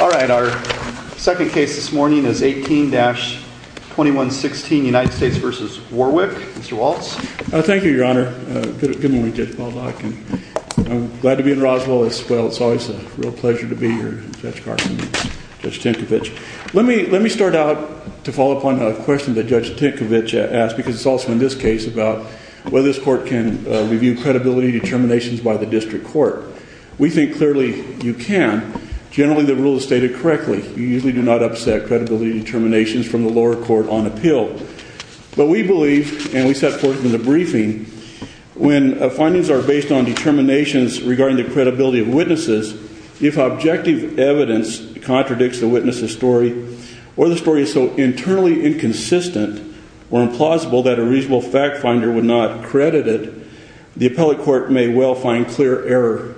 All right, our second case this morning is 18-2116 United States v. Warwick. Mr. Waltz. Thank you, your honor. Good morning, Judge Baldock. I'm glad to be in Roswell as well. It's always a real pleasure to be here, Judge Carson and Judge Tinkovich. Let me start out to follow up on a question that Judge Tinkovich asked, because it's also in this case about whether this court can review credibility determinations by the district court. We think clearly you can. Generally, the rule is stated correctly. You usually do not upset credibility determinations from the lower court on appeal. But we believe, and we set forth in the briefing, when findings are based on determinations regarding the credibility of witnesses, if objective evidence contradicts the witness's story or the story is so internally inconsistent or implausible that a reasonable fact finder would not credit it, the appellate court may well find clear error,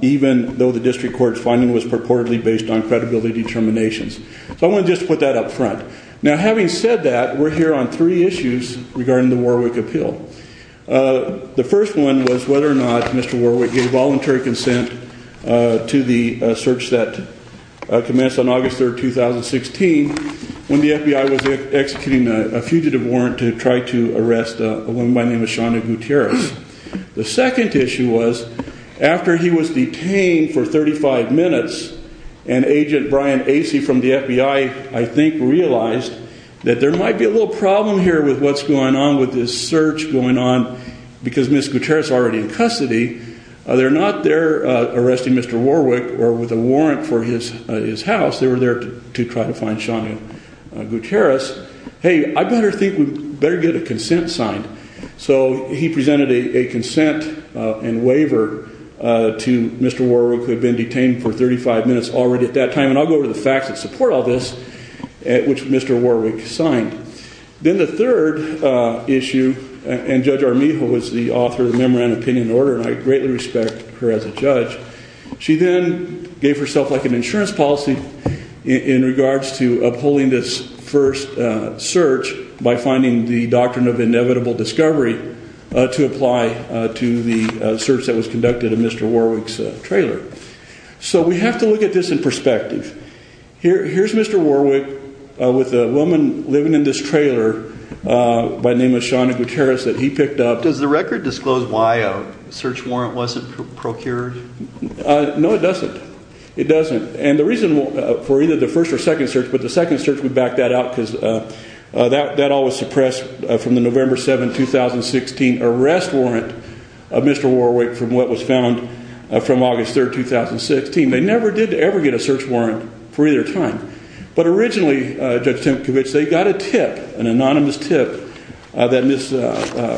even though the district court's finding was purportedly based on credibility determinations. So I want to just put that up front. Now, having said that, we're here on three issues regarding the Warwick appeal. The first one was whether or not Mr. Warwick gave voluntary consent to the search that commenced on August 3rd, 2016, when the FBI was executing a fugitive warrant to try to arrest a woman by the name of Shawna Gutierrez. The second issue was, after he was detained for 35 minutes, and agent Brian Acey from the FBI, I think, realized that there might be a little problem here with what's going on with this search going on, because Ms. Gutierrez is already in custody. They're not there arresting Mr. Warwick or with a warrant for his house. They were there to try to find Shawna Gutierrez. Hey, I better think we better get a consent signed. So he presented a consent and waiver to Mr. Warwick, who had been detained for 35 minutes already at that time, and I'll go over the facts that support all this, which Mr. Warwick signed. Then the third issue, and Judge Armijo was the author of the Memorandum of Opinion and Order, and I greatly respect her as a judge. She then gave herself like an first search by finding the Doctrine of Inevitable Discovery to apply to the search that was conducted in Mr. Warwick's trailer. So we have to look at this in perspective. Here's Mr. Warwick with a woman living in this trailer by the name of Shawna Gutierrez that he picked up. Does the record disclose why a search warrant wasn't procured? No, it doesn't. It doesn't. And the reason for either the first or the second search is I'm going to point that out because that all was suppressed from the November 7, 2016 arrest warrant of Mr. Warwick from what was found from August 3, 2016. They never did ever get a search warrant for either time. But originally, Judge Tempkowitz, they got a tip, an anonymous tip that Ms.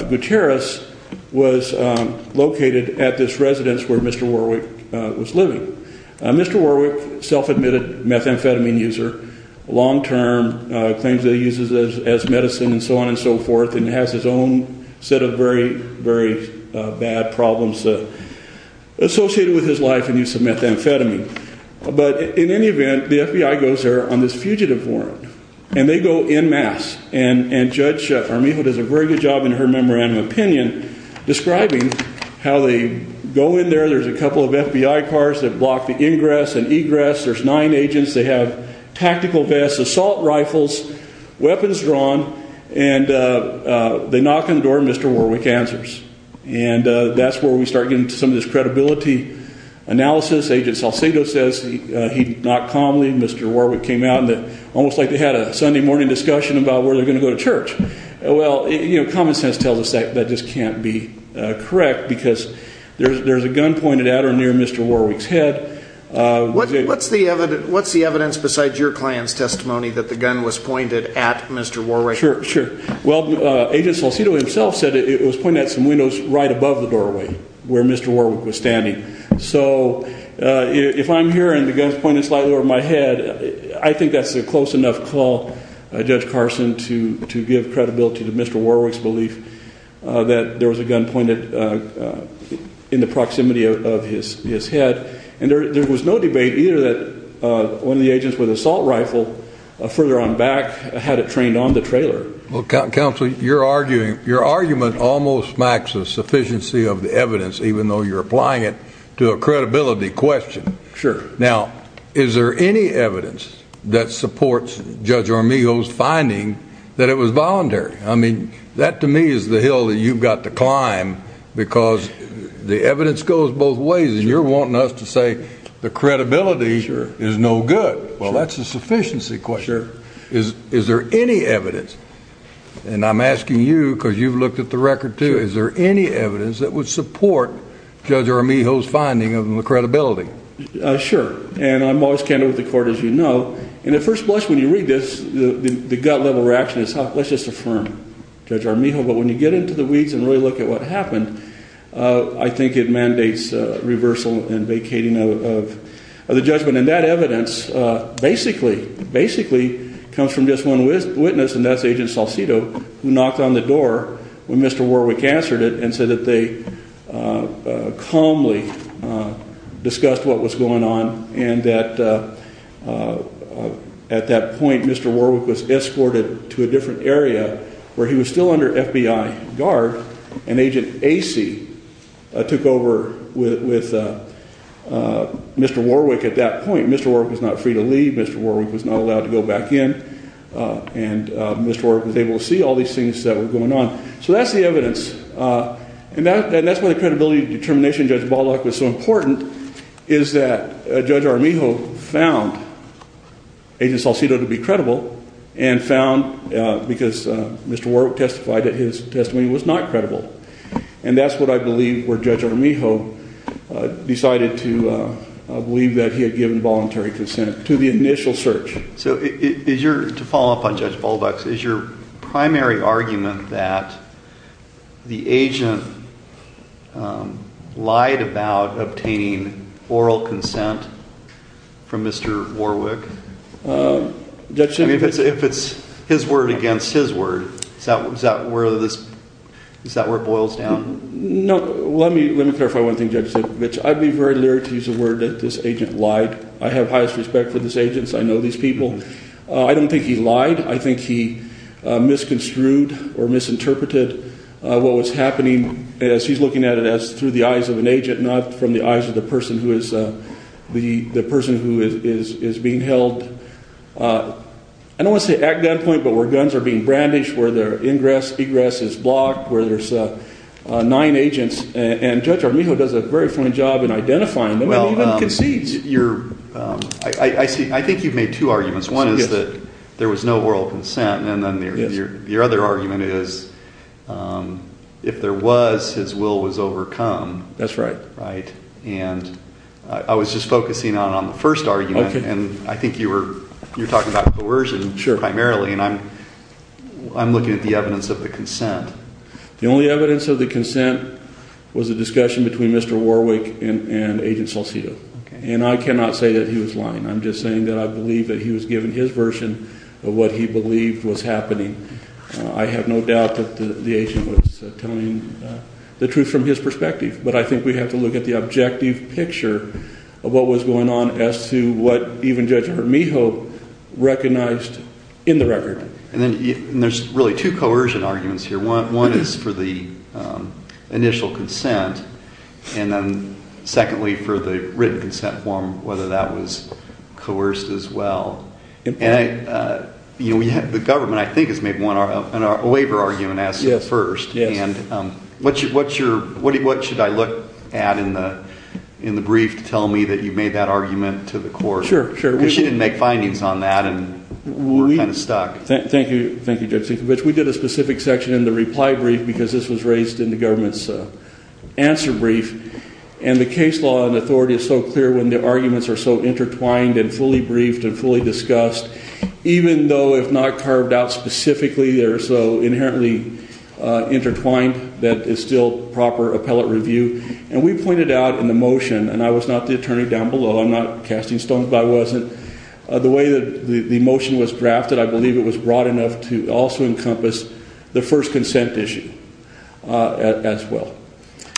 Gutierrez was located at this residence where Mr. Warwick was living. Mr. Warwick, self-admitted methamphetamine user, long-term claims that he uses as medicine and so on and so forth, and has his own set of very, very bad problems associated with his life and use of methamphetamine. But in any event, the FBI goes there on this fugitive warrant and they go en masse. And Judge Armijo does a very good job in her memorandum opinion describing how they go in there. There's a couple of FBI cars that block the ingress and egress. There's nine agents. They have tactical vests, assault rifles, weapons drawn, and they knock on the door and Mr. Warwick answers. And that's where we start getting into some of this credibility analysis. Agent Salcedo says he knocked calmly. Mr. Warwick came out. Almost like they had a Sunday morning discussion about where they're going to go to church. Well, you know, common sense tells us that that just can't be correct because there's a gun pointed at or near Mr. Warwick's head. What's the evidence besides your client's testimony that the gun was pointed at Mr. Warwick? Sure, sure. Well, Agent Salcedo himself said it was pointed at some windows right above the doorway where Mr. Warwick was standing. So if I'm here and the gun's pointed slightly over my head, I think that's a close enough call, Judge Carson, to give credibility to Mr. Warwick's belief that there was a gun pointed in the proximity of his head. And there was no debate either that one of the agents with assault rifle further on back had it trained on the trailer. Well, Counselor, you're arguing, your argument almost smacks of sufficiency of the evidence, even though you're applying it to a credibility question. Sure. Now, is there any evidence that supports Judge Armijo's finding that it was both ways, and you're wanting us to say the credibility is no good? Well, that's a sufficiency question. Is there any evidence, and I'm asking you because you've looked at the record too, is there any evidence that would support Judge Armijo's finding of the credibility? Sure, and I'm always candid with the court, as you know, and at first blush when you read this, the gut-level reaction is, let's just affirm, Judge Armijo, but when you get into the weeds and really look at what happened, I think it mandates reversal and vacating of the judgment. And that evidence basically, basically comes from just one witness, and that's Agent Salcido, who knocked on the door when Mr. Warwick answered it and said that they calmly discussed what was going on, and that at that point Mr. Warwick was escorted to a different area where he was still under FBI guard, and Agent Acey took over with Mr. Warwick at that point. Mr. Warwick was not free to leave, Mr. Warwick was not allowed to go back in, and Mr. Warwick was able to see all these things that were going on. So that's the evidence, and that's why the credibility determination, Judge Ballock, was so important, is that Judge Armijo found Agent Salcido to be that his testimony was not credible. And that's what I believe where Judge Armijo decided to believe that he had given voluntary consent to the initial search. So is your, to follow up on Judge Balduck's, is your primary argument that the agent lied about obtaining oral consent from Mr. Warwick? If it's his word against his word, is that where this, is that where it boils down? No, let me clarify one thing Judge said, which I'd be very leery to use the word that this agent lied. I have highest respect for this agent, I know these people. I don't think he lied, I think he misconstrued or misinterpreted what was happening as he's looking at it as through the eyes of an agent who is being held, I don't want to say at gunpoint, but where guns are being brandished, where their ingress, egress is blocked, where there's nine agents, and Judge Armijo does a very fine job in identifying them and even concedes. I see, I think you've made two arguments. One is that there was no oral consent, and then your other argument is, if there was, his will was overcome. That's right. And I was just focusing on the first argument, and I think you were talking about coercion primarily, and I'm looking at the evidence of the consent. The only evidence of the consent was a discussion between Mr. Warwick and Agent Salcido, and I cannot say that he was lying, I'm just saying that I believe that he was given his version of what he believed was happening. I have no doubt that the agent was telling the truth from his perspective, but I think we have to look at the objective picture of what was going on as to what even Judge Armijo recognized in the record. And there's really two coercion arguments here. One is for the initial consent, and then secondly for the written consent form, whether that was coerced as well. And the government, I think, has made a waiver argument as a first, and what should I look at in the brief to tell me that you made that argument to the court? Sure, sure. Because she didn't make findings on that, and we're kind of stuck. Thank you, thank you, Judge Sienkiewicz. We did a specific section in the reply brief because this was raised in the government's answer brief, and the case law and authority is so clear when the arguments are so intertwined and fully briefed and fully discussed, even though if not carved out specifically, they're so inherently intertwined that it's still proper appellate review. And we pointed out in the motion, and I was not the attorney down below, I'm not casting stones, but I wasn't, the way that the motion was drafted, I believe it was broad enough to also encompass the first consent issue as well.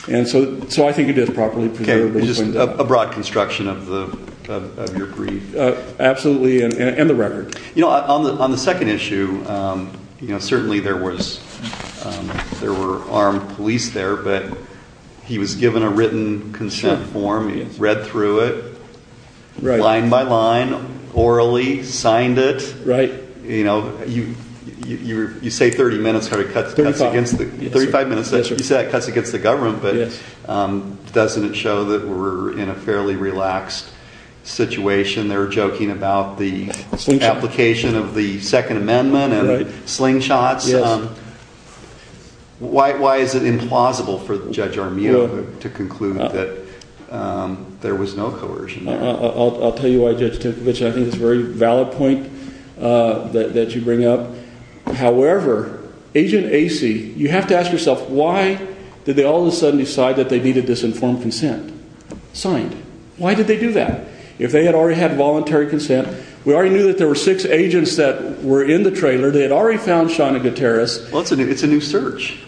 And so I think it is properly preserved. Okay, just a broad construction of your brief. Absolutely, and the second issue, you know, certainly there was, there were armed police there, but he was given a written consent form, he read through it, line by line, orally signed it. Right. You know, you say 30 minutes, it cuts against the government, but doesn't it show that we're in a fairly relaxed situation? They're joking about the application of the Second Amendment and slingshots. Why is it implausible for Judge Armijo to conclude that there was no coercion? I'll tell you why, Judge Timkevich, I think it's a very valid point that you bring up. However, Agent Acey, you have to ask yourself, why did they all of a sudden decide that they needed this informed consent signed? Why did they do that? If they had already had voluntary consent, we already knew that there were six agents that were in the trailer, they had already found Shauna Gutierrez. Well, it's a new search.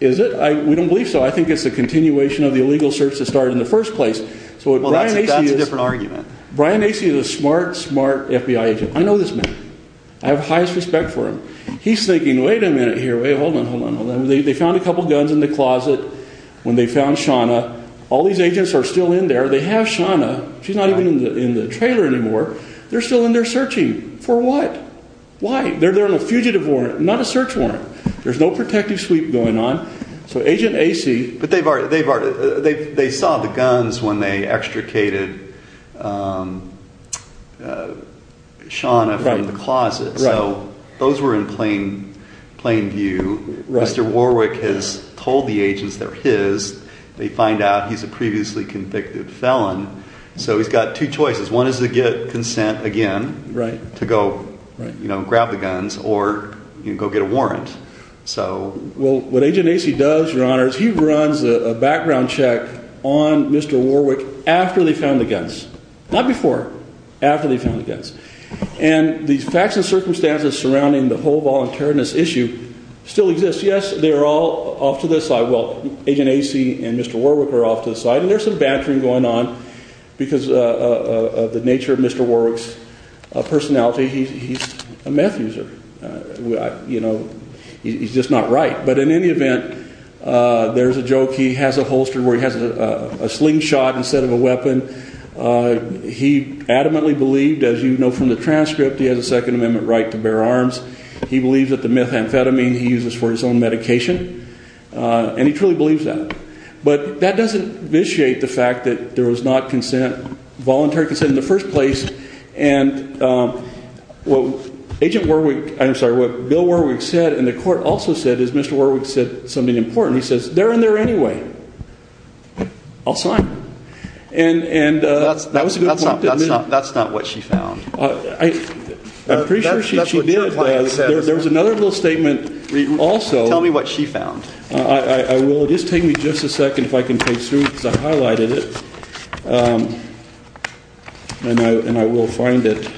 Is it? We don't believe so. I think it's the continuation of the illegal search that started in the first place. Well, that's a different argument. Brian Acey is a smart, smart FBI agent. I know this man. I have highest respect for him. He's thinking, wait a minute here, wait, hold on, hold on, hold on. They found a gun. All these agents are still in there. They have Shauna. She's not even in the trailer anymore. They're still in there searching. For what? Why? They're there on a fugitive warrant, not a search warrant. There's no protective sweep going on. So Agent Acey... But they've already, they saw the guns when they extricated Shauna from the closet. So those were in plain view. Mr. Warwick has told the agents they're his. They find out he's a previously convicted felon. So he's got two choices. One is to get consent again. Right. To go, you know, grab the guns or go get a warrant. So... Well, what Agent Acey does, Your Honor, is he runs a background check on Mr. Warwick after they found the guns. Not before, after they found the guns. And the facts and circumstances surrounding the whole thing, Agent Acey and Mr. Warwick are off to the side. And there's some bantering going on because of the nature of Mr. Warwick's personality. He's a meth user. You know, he's just not right. But in any event, there's a joke. He has a holster where he has a slingshot instead of a weapon. He adamantly believed, as you know from the transcript, he has a Second Amendment right to bear arms. He believes that the methamphetamine he uses for his own medication. And he truly believes that. But that doesn't initiate the fact that there was not consent, voluntary consent, in the first place. And what Agent Warwick, I'm sorry, what Bill Warwick said, and the court also said, is Mr. Warwick said something important. He says, they're in there anyway. I'll sign. And... That's not what she found. I'm pretty sure she did. There's another little statement also. Tell me what she found. I will. Just take me just a second, if I can take some, because I highlighted it. And I will find it.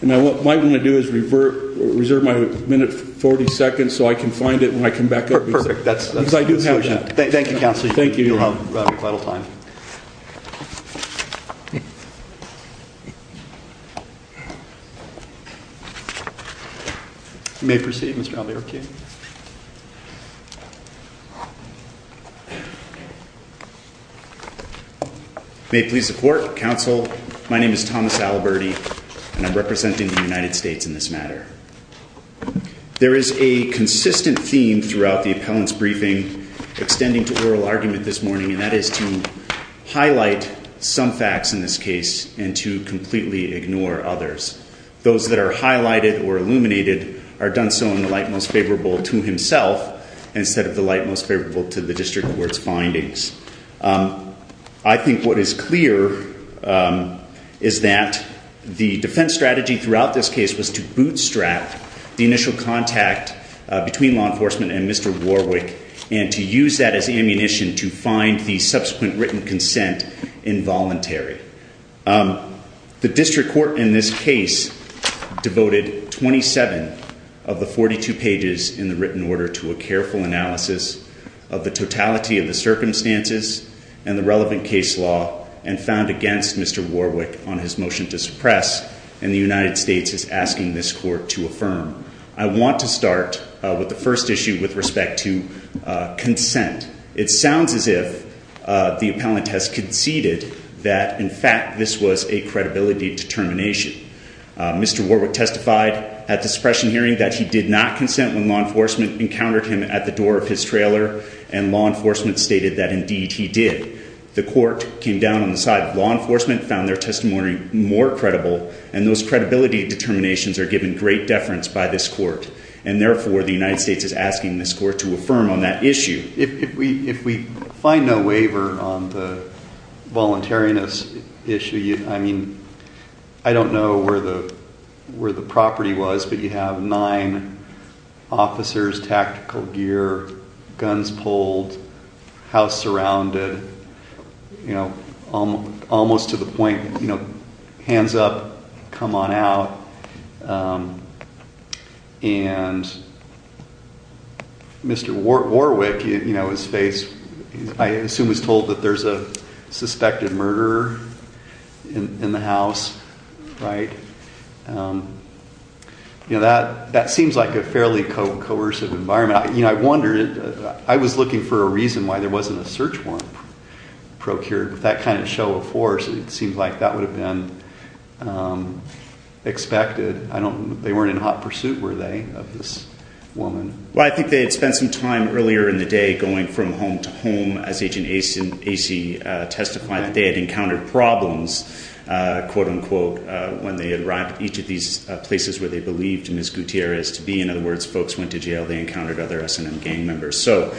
And I might want to do is reserve my minute 40 seconds so I can find it when I come back up. Perfect. That's a good solution. Thank you, Counselor. Thank you. You'll have quite a little time. You may proceed, Mr. Alderkin. May it please the Court, Counsel, my name is Thomas Aliberdi, and I'm representing the United States in this matter. There is a consistent theme throughout the appellant's briefing, extending to oral argument this morning, and that is to highlight some facts in this case and to completely ignore others. Those that are highlighted or illuminated are done so in the light most favorable to himself, instead of the light most favorable to the District Court's findings. I think what is clear is that the defense strategy throughout this case was to bootstrap the initial contact between law enforcement and Mr. Warwick and to use that as ammunition to find the subsequent written consent involuntary. The District Court in this case devoted 27 of the 42 pages in the written order to a careful analysis of the totality of the circumstances and the relevant case law and found against Mr. Warwick on his motion to suppress, and the United States is asking this Court to affirm. I want to start with the first issue with respect to consent. It sounds as if the appellant has conceded that in fact this was a credibility determination. Mr. Warwick testified at the suppression hearing that he did not consent when law enforcement encountered him at the door of his trailer and law enforcement stated that indeed he did. The Court came down on the side of law enforcement, found their testimony more credible, and those credibility determinations are given great by this Court, and therefore the United States is asking this Court to affirm on that issue. If we find no waiver on the voluntariness issue, I don't know where the property was, but you have nine officers, tactical gear, guns pulled, house surrounded, you know, almost to the point, you know, hands up, come on out, and Mr. Warwick, you know, his face, I assume was told that there's a suspected murderer in the house, right? You know, that seems like a fairly coercive environment. You know, I wondered, I was looking for a reason why there wasn't a search warrant procured. With that kind of show of force, it seems like that would have been expected. I don't, they weren't in hot pursuit, were they, of this woman? Well, I think they had spent some time earlier in the day going from home to home as Agent Acey testified that they had encountered problems, quote unquote, when they arrived at each of these places where they believed Ms. Gutierrez to be. In other words, folks went to jail, they encountered other S&M members. So,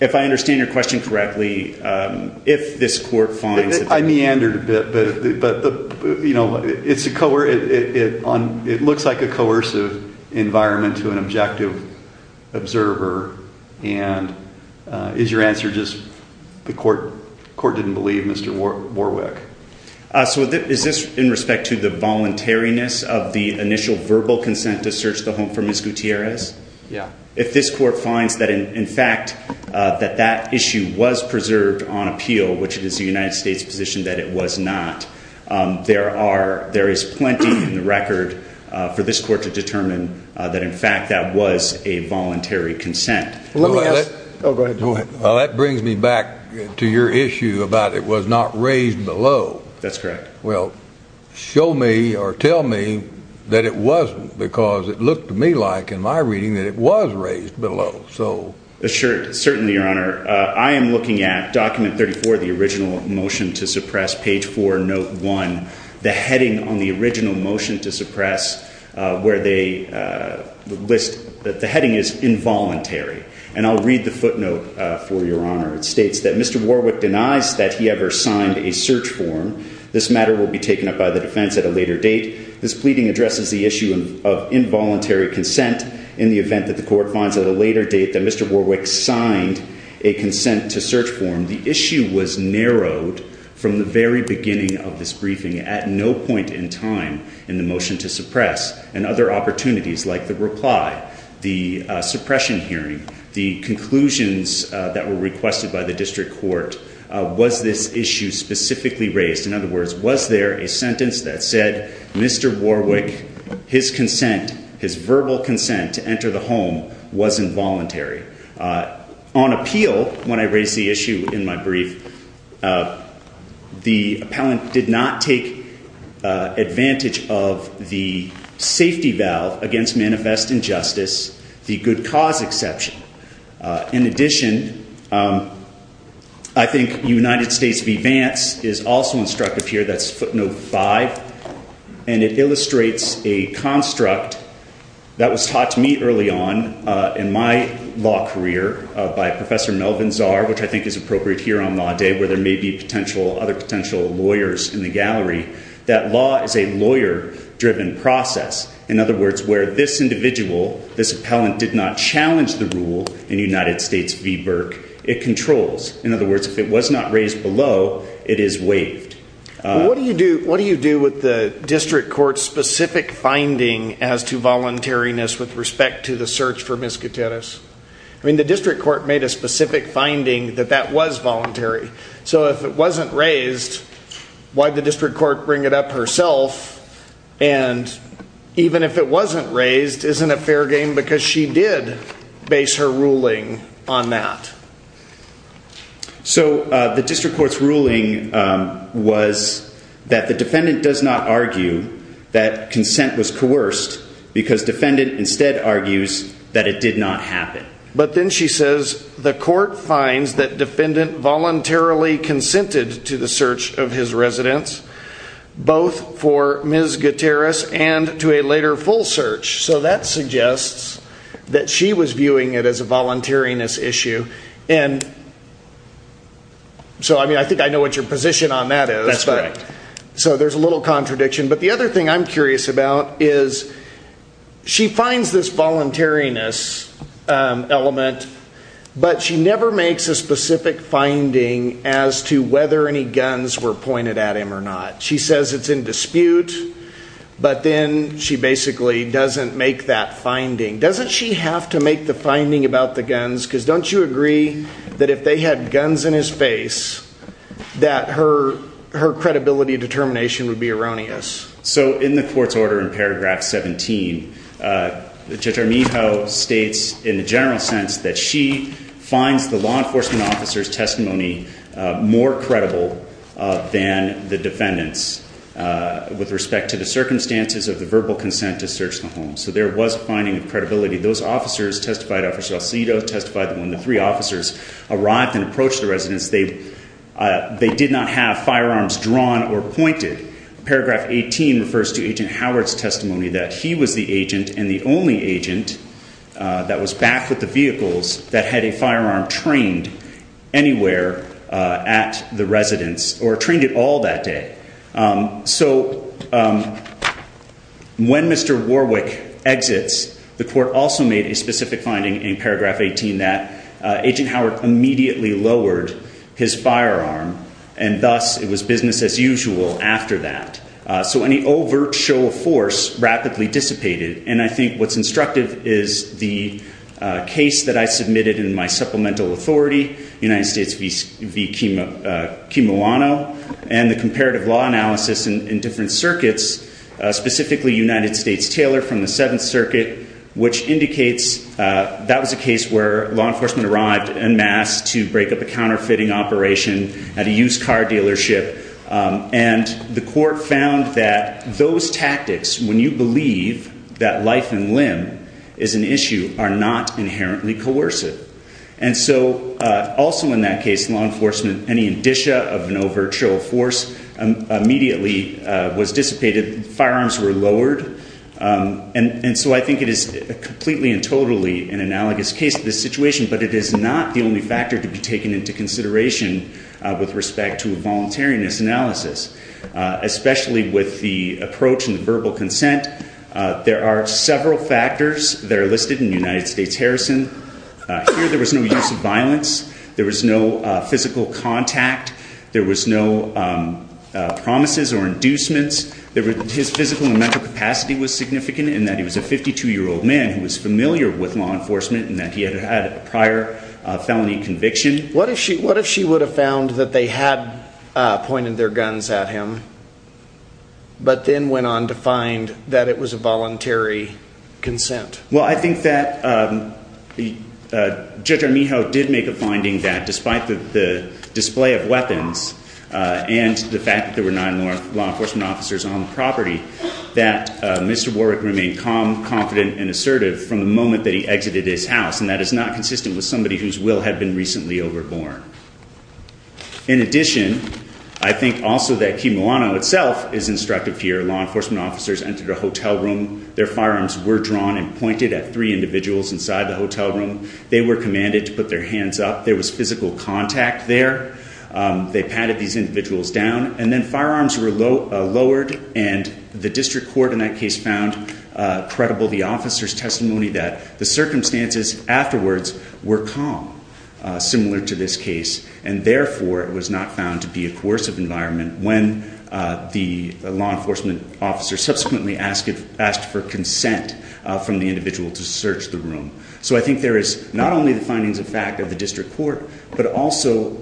if I understand your question correctly, if this court finds... I meandered a bit, but, you know, it looks like a coercive environment to an objective observer, and is your answer just the court didn't believe Mr. Warwick? So, is this in respect to the voluntariness of the initial verbal consent to search the home for Ms. Gutierrez? Yeah. If this court finds that, in fact, that that issue was preserved on appeal, which it is the United States position that it was not, there are, there is plenty in the record for this court to determine that, in fact, that was a voluntary consent. Well, that brings me back to your issue about it was not raised below. That's correct. Well, show me or tell me that it wasn't, because it looked to me like, in my reading, that it was raised below. So... Assured. Certainly, Your Honor. I am looking at document 34, the original motion to suppress, page 4, note 1, the heading on the original motion to suppress, where they list that the and I'll read the footnote for Your Honor. It states that Mr. Warwick denies that he ever signed a search form. This matter will be taken up by the defense at a later date. This pleading addresses the issue of involuntary consent in the event that the court finds at a later date that Mr. Warwick signed a consent to search form. The issue was narrowed from the very beginning of this briefing at no point in time in the motion to suppress and other opportunities like the reply, the suppression hearing, the conclusions that were requested by the district court. Was this issue specifically raised? In other words, was there a sentence that said, Mr. Warwick, his consent, his verbal consent to enter the home was involuntary? On appeal, when I raised the issue in my brief, the appellant did not take advantage of the safety valve against manifest injustice, the good cause exception. In addition, I think United States v. Vance is also instructive here, that's footnote 5, and it illustrates a construct that was taught to me early on in my law career by Professor Melvin Tsar, which I think is appropriate here on Law Day, where there may be other potential lawyers in the gallery, that law is a lawyer-driven process. In other words, where this individual, this appellant, did not challenge the rule in United States v. Burke, it controls. In other words, if it was not raised below, it is waived. What do you do with the district court's specific finding as to voluntariness with respect to the court? The district court made a specific finding that that was voluntary. So if it wasn't raised, why did the district court bring it up herself? And even if it wasn't raised, isn't it fair game? Because she did base her ruling on that. So the district court's ruling was that the defendant does not argue that consent was voluntary. The court finds that the defendant voluntarily consented to the search of his residence, both for Ms. Gutierrez and to a later full search. So that suggests that she was viewing it as a voluntariness issue. And so I mean, I think I know what your position on that is. That's right. So there's a little contradiction. But the other thing I'm curious about is she finds this voluntariness element, but she never makes a specific finding as to whether any guns were pointed at him or not. She says it's in dispute, but then she basically doesn't make that finding. Doesn't she have to make the finding about the guns? Because don't you agree that if they had guns in his face, that her credibility determination would be erroneous? So in the court's order in paragraph 17, Judge Armijo states in the general sense that she finds the law enforcement officer's testimony more credible than the defendant's with respect to the circumstances of the verbal consent to search the home. So there was a finding of credibility. Those officers testified, Officer Alcedo testified that when the three officers arrived and approached the residence, they did not have firearms drawn or pointed. Paragraph 18 refers to Agent Howard's testimony that he was the agent and the only agent that was back with the vehicles that had a firearm trained anywhere at the residence or trained at all that day. So when Mr. Warwick exits, the court also made a specific finding in paragraph 18 that Agent Howard immediately lowered his firearm. And thus it was business as usual after that. So any overt show of force rapidly dissipated. And I think what's instructive is the case that I submitted in my supplemental authority, United States v. Kimilano, and the comparative law analysis in different circuits, specifically United States Taylor from the Seventh Circuit, which indicates that was a case where law enforcement arrived en masse to break up a counterfeiting operation at a used car dealership. And the court found that those tactics, when you believe that life and limb is an issue, are not inherently coercive. And so also in that case, law enforcement, any indicia of an overt show of force immediately was dissipated. Firearms were lowered. And so I think it is completely and totally an analogous case to this situation, but it is not the only factor to be taken into consideration with respect to a voluntariness analysis, especially with the approach and verbal consent. There are several factors that are listed in United States Harrison. Here there was no use of violence. There was no physical contact. There was no promises or inducements. His physical and mental capacity was significant in that he was a 52-year-old man who was familiar with law enforcement and that he had had a prior felony conviction. What if she would have found that they had pointed their guns at him, but then went on to find that it was a voluntary consent? Well, I think that Judge Armijo did make a finding that despite the display of weapons and the fact that there were nine law enforcement officers on the property, that Mr. Warwick remained calm, confident, and assertive from the moment that he exited his house. And that is not consistent with somebody whose will had been recently overborn. In addition, I think also that Quimolano itself is instructive here. Law enforcement officers entered a hotel room. Their firearms were drawn and pointed at three individuals inside the hotel room. They were commanded to put their hands up. There was physical contact there. They patted these individuals down. And then firearms were lowered. And the district court in that case found credible the officer's testimony that the circumstances afterwards were calm, similar to this case. And therefore, it was not found to be a coercive environment when the law enforcement officer subsequently asked for consent from the individual to search the room. So I think there is not only the findings of fact of the district court, but also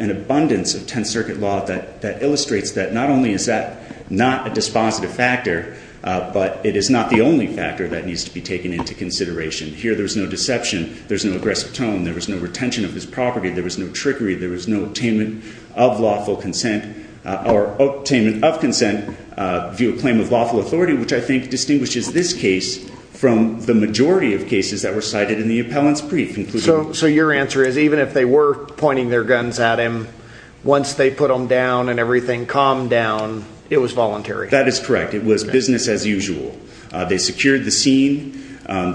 an abundance of circuit law that illustrates that not only is that not a dispositive factor, but it is not the only factor that needs to be taken into consideration. Here, there's no deception. There's no aggressive tone. There was no retention of his property. There was no trickery. There was no attainment of lawful consent or attainment of consent via claim of lawful authority, which I think distinguishes this case from the majority of cases that were cited in the appellant's brief. So your answer is even if they were pointing their guns at him, once they put them down and everything calmed down, it was voluntary? That is correct. It was business as usual. They secured the scene.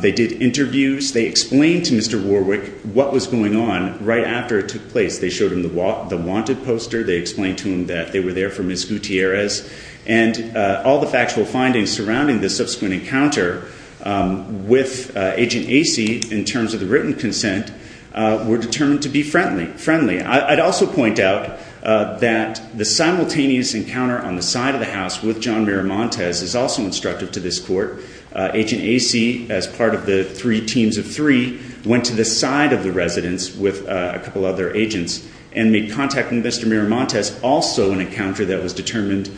They did interviews. They explained to Mr. Warwick what was going on right after it took place. They showed him the wanted poster. They explained to him that they were there for Ms. Gutierrez. And all the factual findings surrounding the subsequent encounter with Agent Acey in terms of the written consent were determined to be friendly. I'd also point out that the simultaneous encounter on the side of the house with John Miramontes is also instructive to this court. Agent Acey, as part of the three teams of three, went to the side of the residence with a couple other agents and made contact with Mr. Miramontes, also an encounter that was determined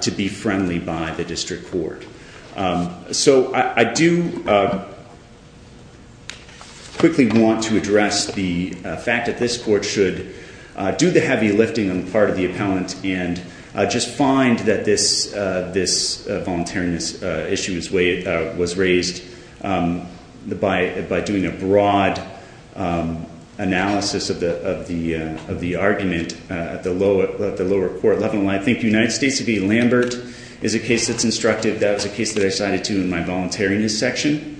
to be friendly by the district court. So I do quickly want to address the fact that this court should do the heavy lifting on the part of the appellant and just find that this voluntariness issue was raised by doing a broad analysis of the argument at the lower court level. I think United States v. Lambert is a case that's instructive. That was a case that I cited to in my voluntariness section.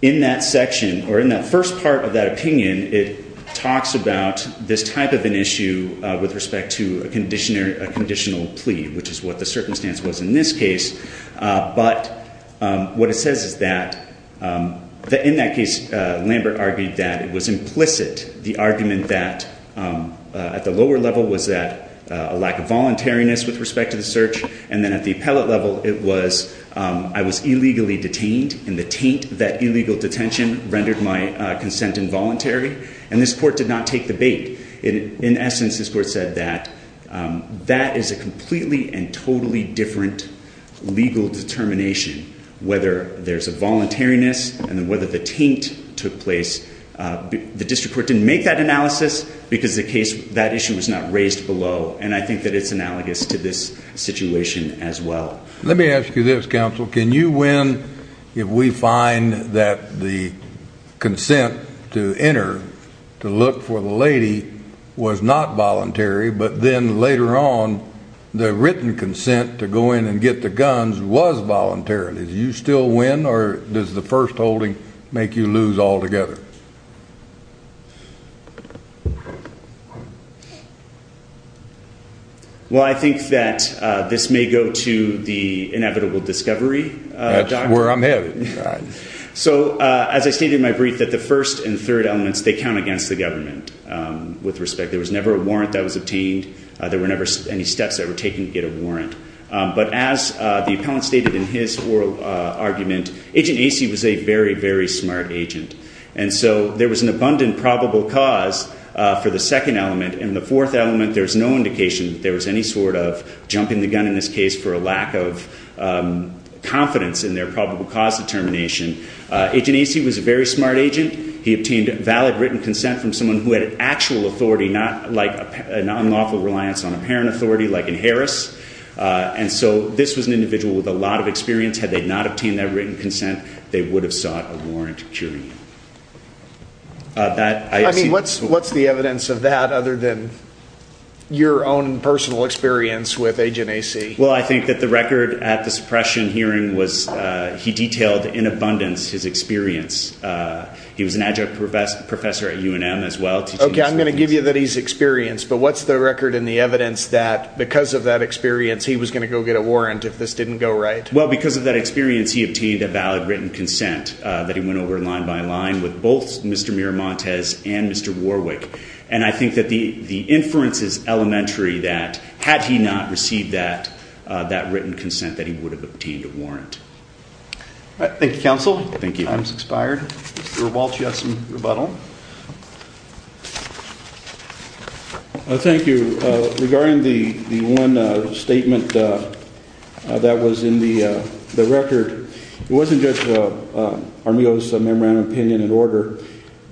In that section, or in that first part of that opinion, it talks about this type of an issue with respect to a conditional plea, which is what the circumstance was in this case. But what it says is that, in that case, Lambert argued that it was implicit the argument that at the lower level was that a lack of voluntariness with respect to the search, and then at the appellate level it was I was illegally detained, and the taint of that illegal detention rendered my consent involuntary, and this court did not take the bait. In essence, this court said that that is a completely and totally different legal determination, whether there's a voluntariness and whether the taint took place. The district court didn't make that analysis because the case that issue was not raised below, and I think that it's analogous to this situation as well. Let me ask you this, counsel. Can you win if we find that the consent to enter to look for the lady was not voluntary, but then later on the written consent to go in and get the guns was voluntarily? Do you still win, or does the first holding make you lose altogether? Well, I think that this may go to the inevitable discovery. That's where I'm headed. So, as I stated in my brief, that the first and third elements, they count against the government with respect. There was never a warrant that was obtained. There were never any steps that were warrant, but as the appellant stated in his oral argument, Agent Acey was a very, very smart agent, and so there was an abundant probable cause for the second element. In the fourth element, there's no indication that there was any sort of jumping the gun in this case for a lack of confidence in their probable cause determination. Agent Acey was a very smart agent. He obtained valid written consent from someone who had actual authority, not like a non-lawful reliance on and so this was an individual with a lot of experience. Had they not obtained that written consent, they would have sought a warrant curing him. I mean, what's the evidence of that other than your own personal experience with Agent Acey? Well, I think that the record at the suppression hearing was he detailed in abundance his experience. He was an adjunct professor at UNM as well. Okay, I'm going to give you that he's experienced, but what's the record and the evidence that because of that experience he was going to go get a warrant if this didn't go right? Well, because of that experience, he obtained a valid written consent that he went over line by line with both Mr. Miramontes and Mr. Warwick, and I think that the inference is elementary that had he not received that written consent that he would have obtained a warrant. Thank you, counsel. Thank you. Time's expired. Mr. Walsh, you had some rebuttal. Thank you. Regarding the one statement that was in the record, it wasn't just Armijo's memorandum of opinion and order,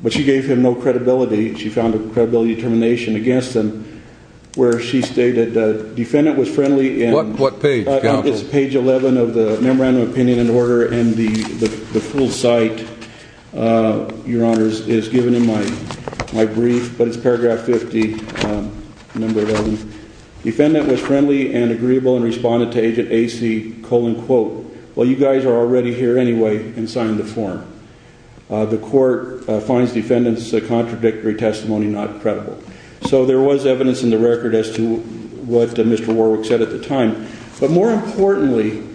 but she gave him no credibility. She found a credibility determination against him where she stated the defendant was friendly and- What page, counsel? It's page 11 of the memorandum of opinion and order, and the full site, your honors, is given in my brief, but it's paragraph 50, number 11. Defendant was friendly and agreeable and responded to agent AC, quote, well, you guys are already here anyway, and signed the form. The court finds defendant's contradictory testimony not credible. So there was evidence in record as to what Mr. Warwick said at the time, but more importantly,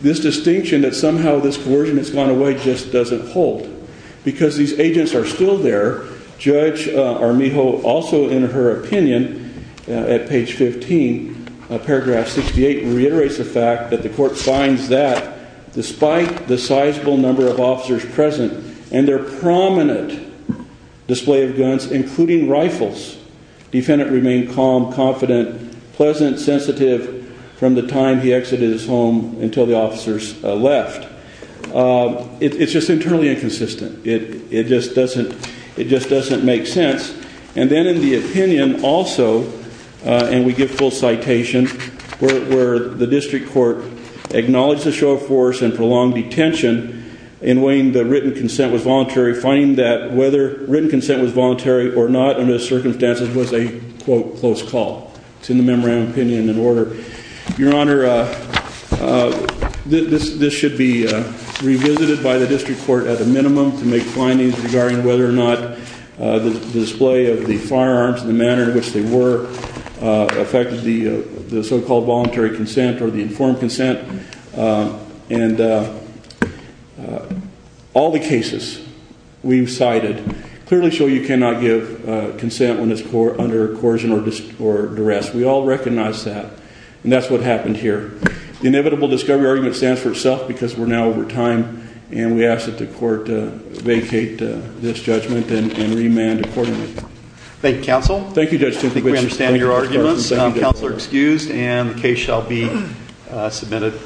this distinction that somehow this coercion has gone away just doesn't hold because these agents are still there. Judge Armijo also in her opinion at page 15, paragraph 68, reiterates the fact that the court finds that despite the sizable number of officers present and their prominent display of guns, including rifles, defendant remained calm, confident, pleasant, sensitive from the time he exited his home until the officers left. It's just internally inconsistent. It just doesn't make sense. And then in the opinion also, and we give full citation, where the district court acknowledged the show of force and prolonged detention in weighing the written consent was voluntary or not under the circumstances was a quote close call. It's in the memorandum opinion and order. Your Honor, this should be revisited by the district court at a minimum to make findings regarding whether or not the display of the firearms and the manner in which they were affected the so-called voluntary consent or the informed consent. And all the cases we've cited clearly show you cannot give consent when it's under coercion or duress. We all recognize that and that's what happened here. The inevitable discovery argument stands for itself because we're now over time and we ask that the court vacate this judgment and remand accordingly. Thank you, counsel. Thank you, Judge. I think we understand your arguments. Counsel are excused and the case shall be submitted.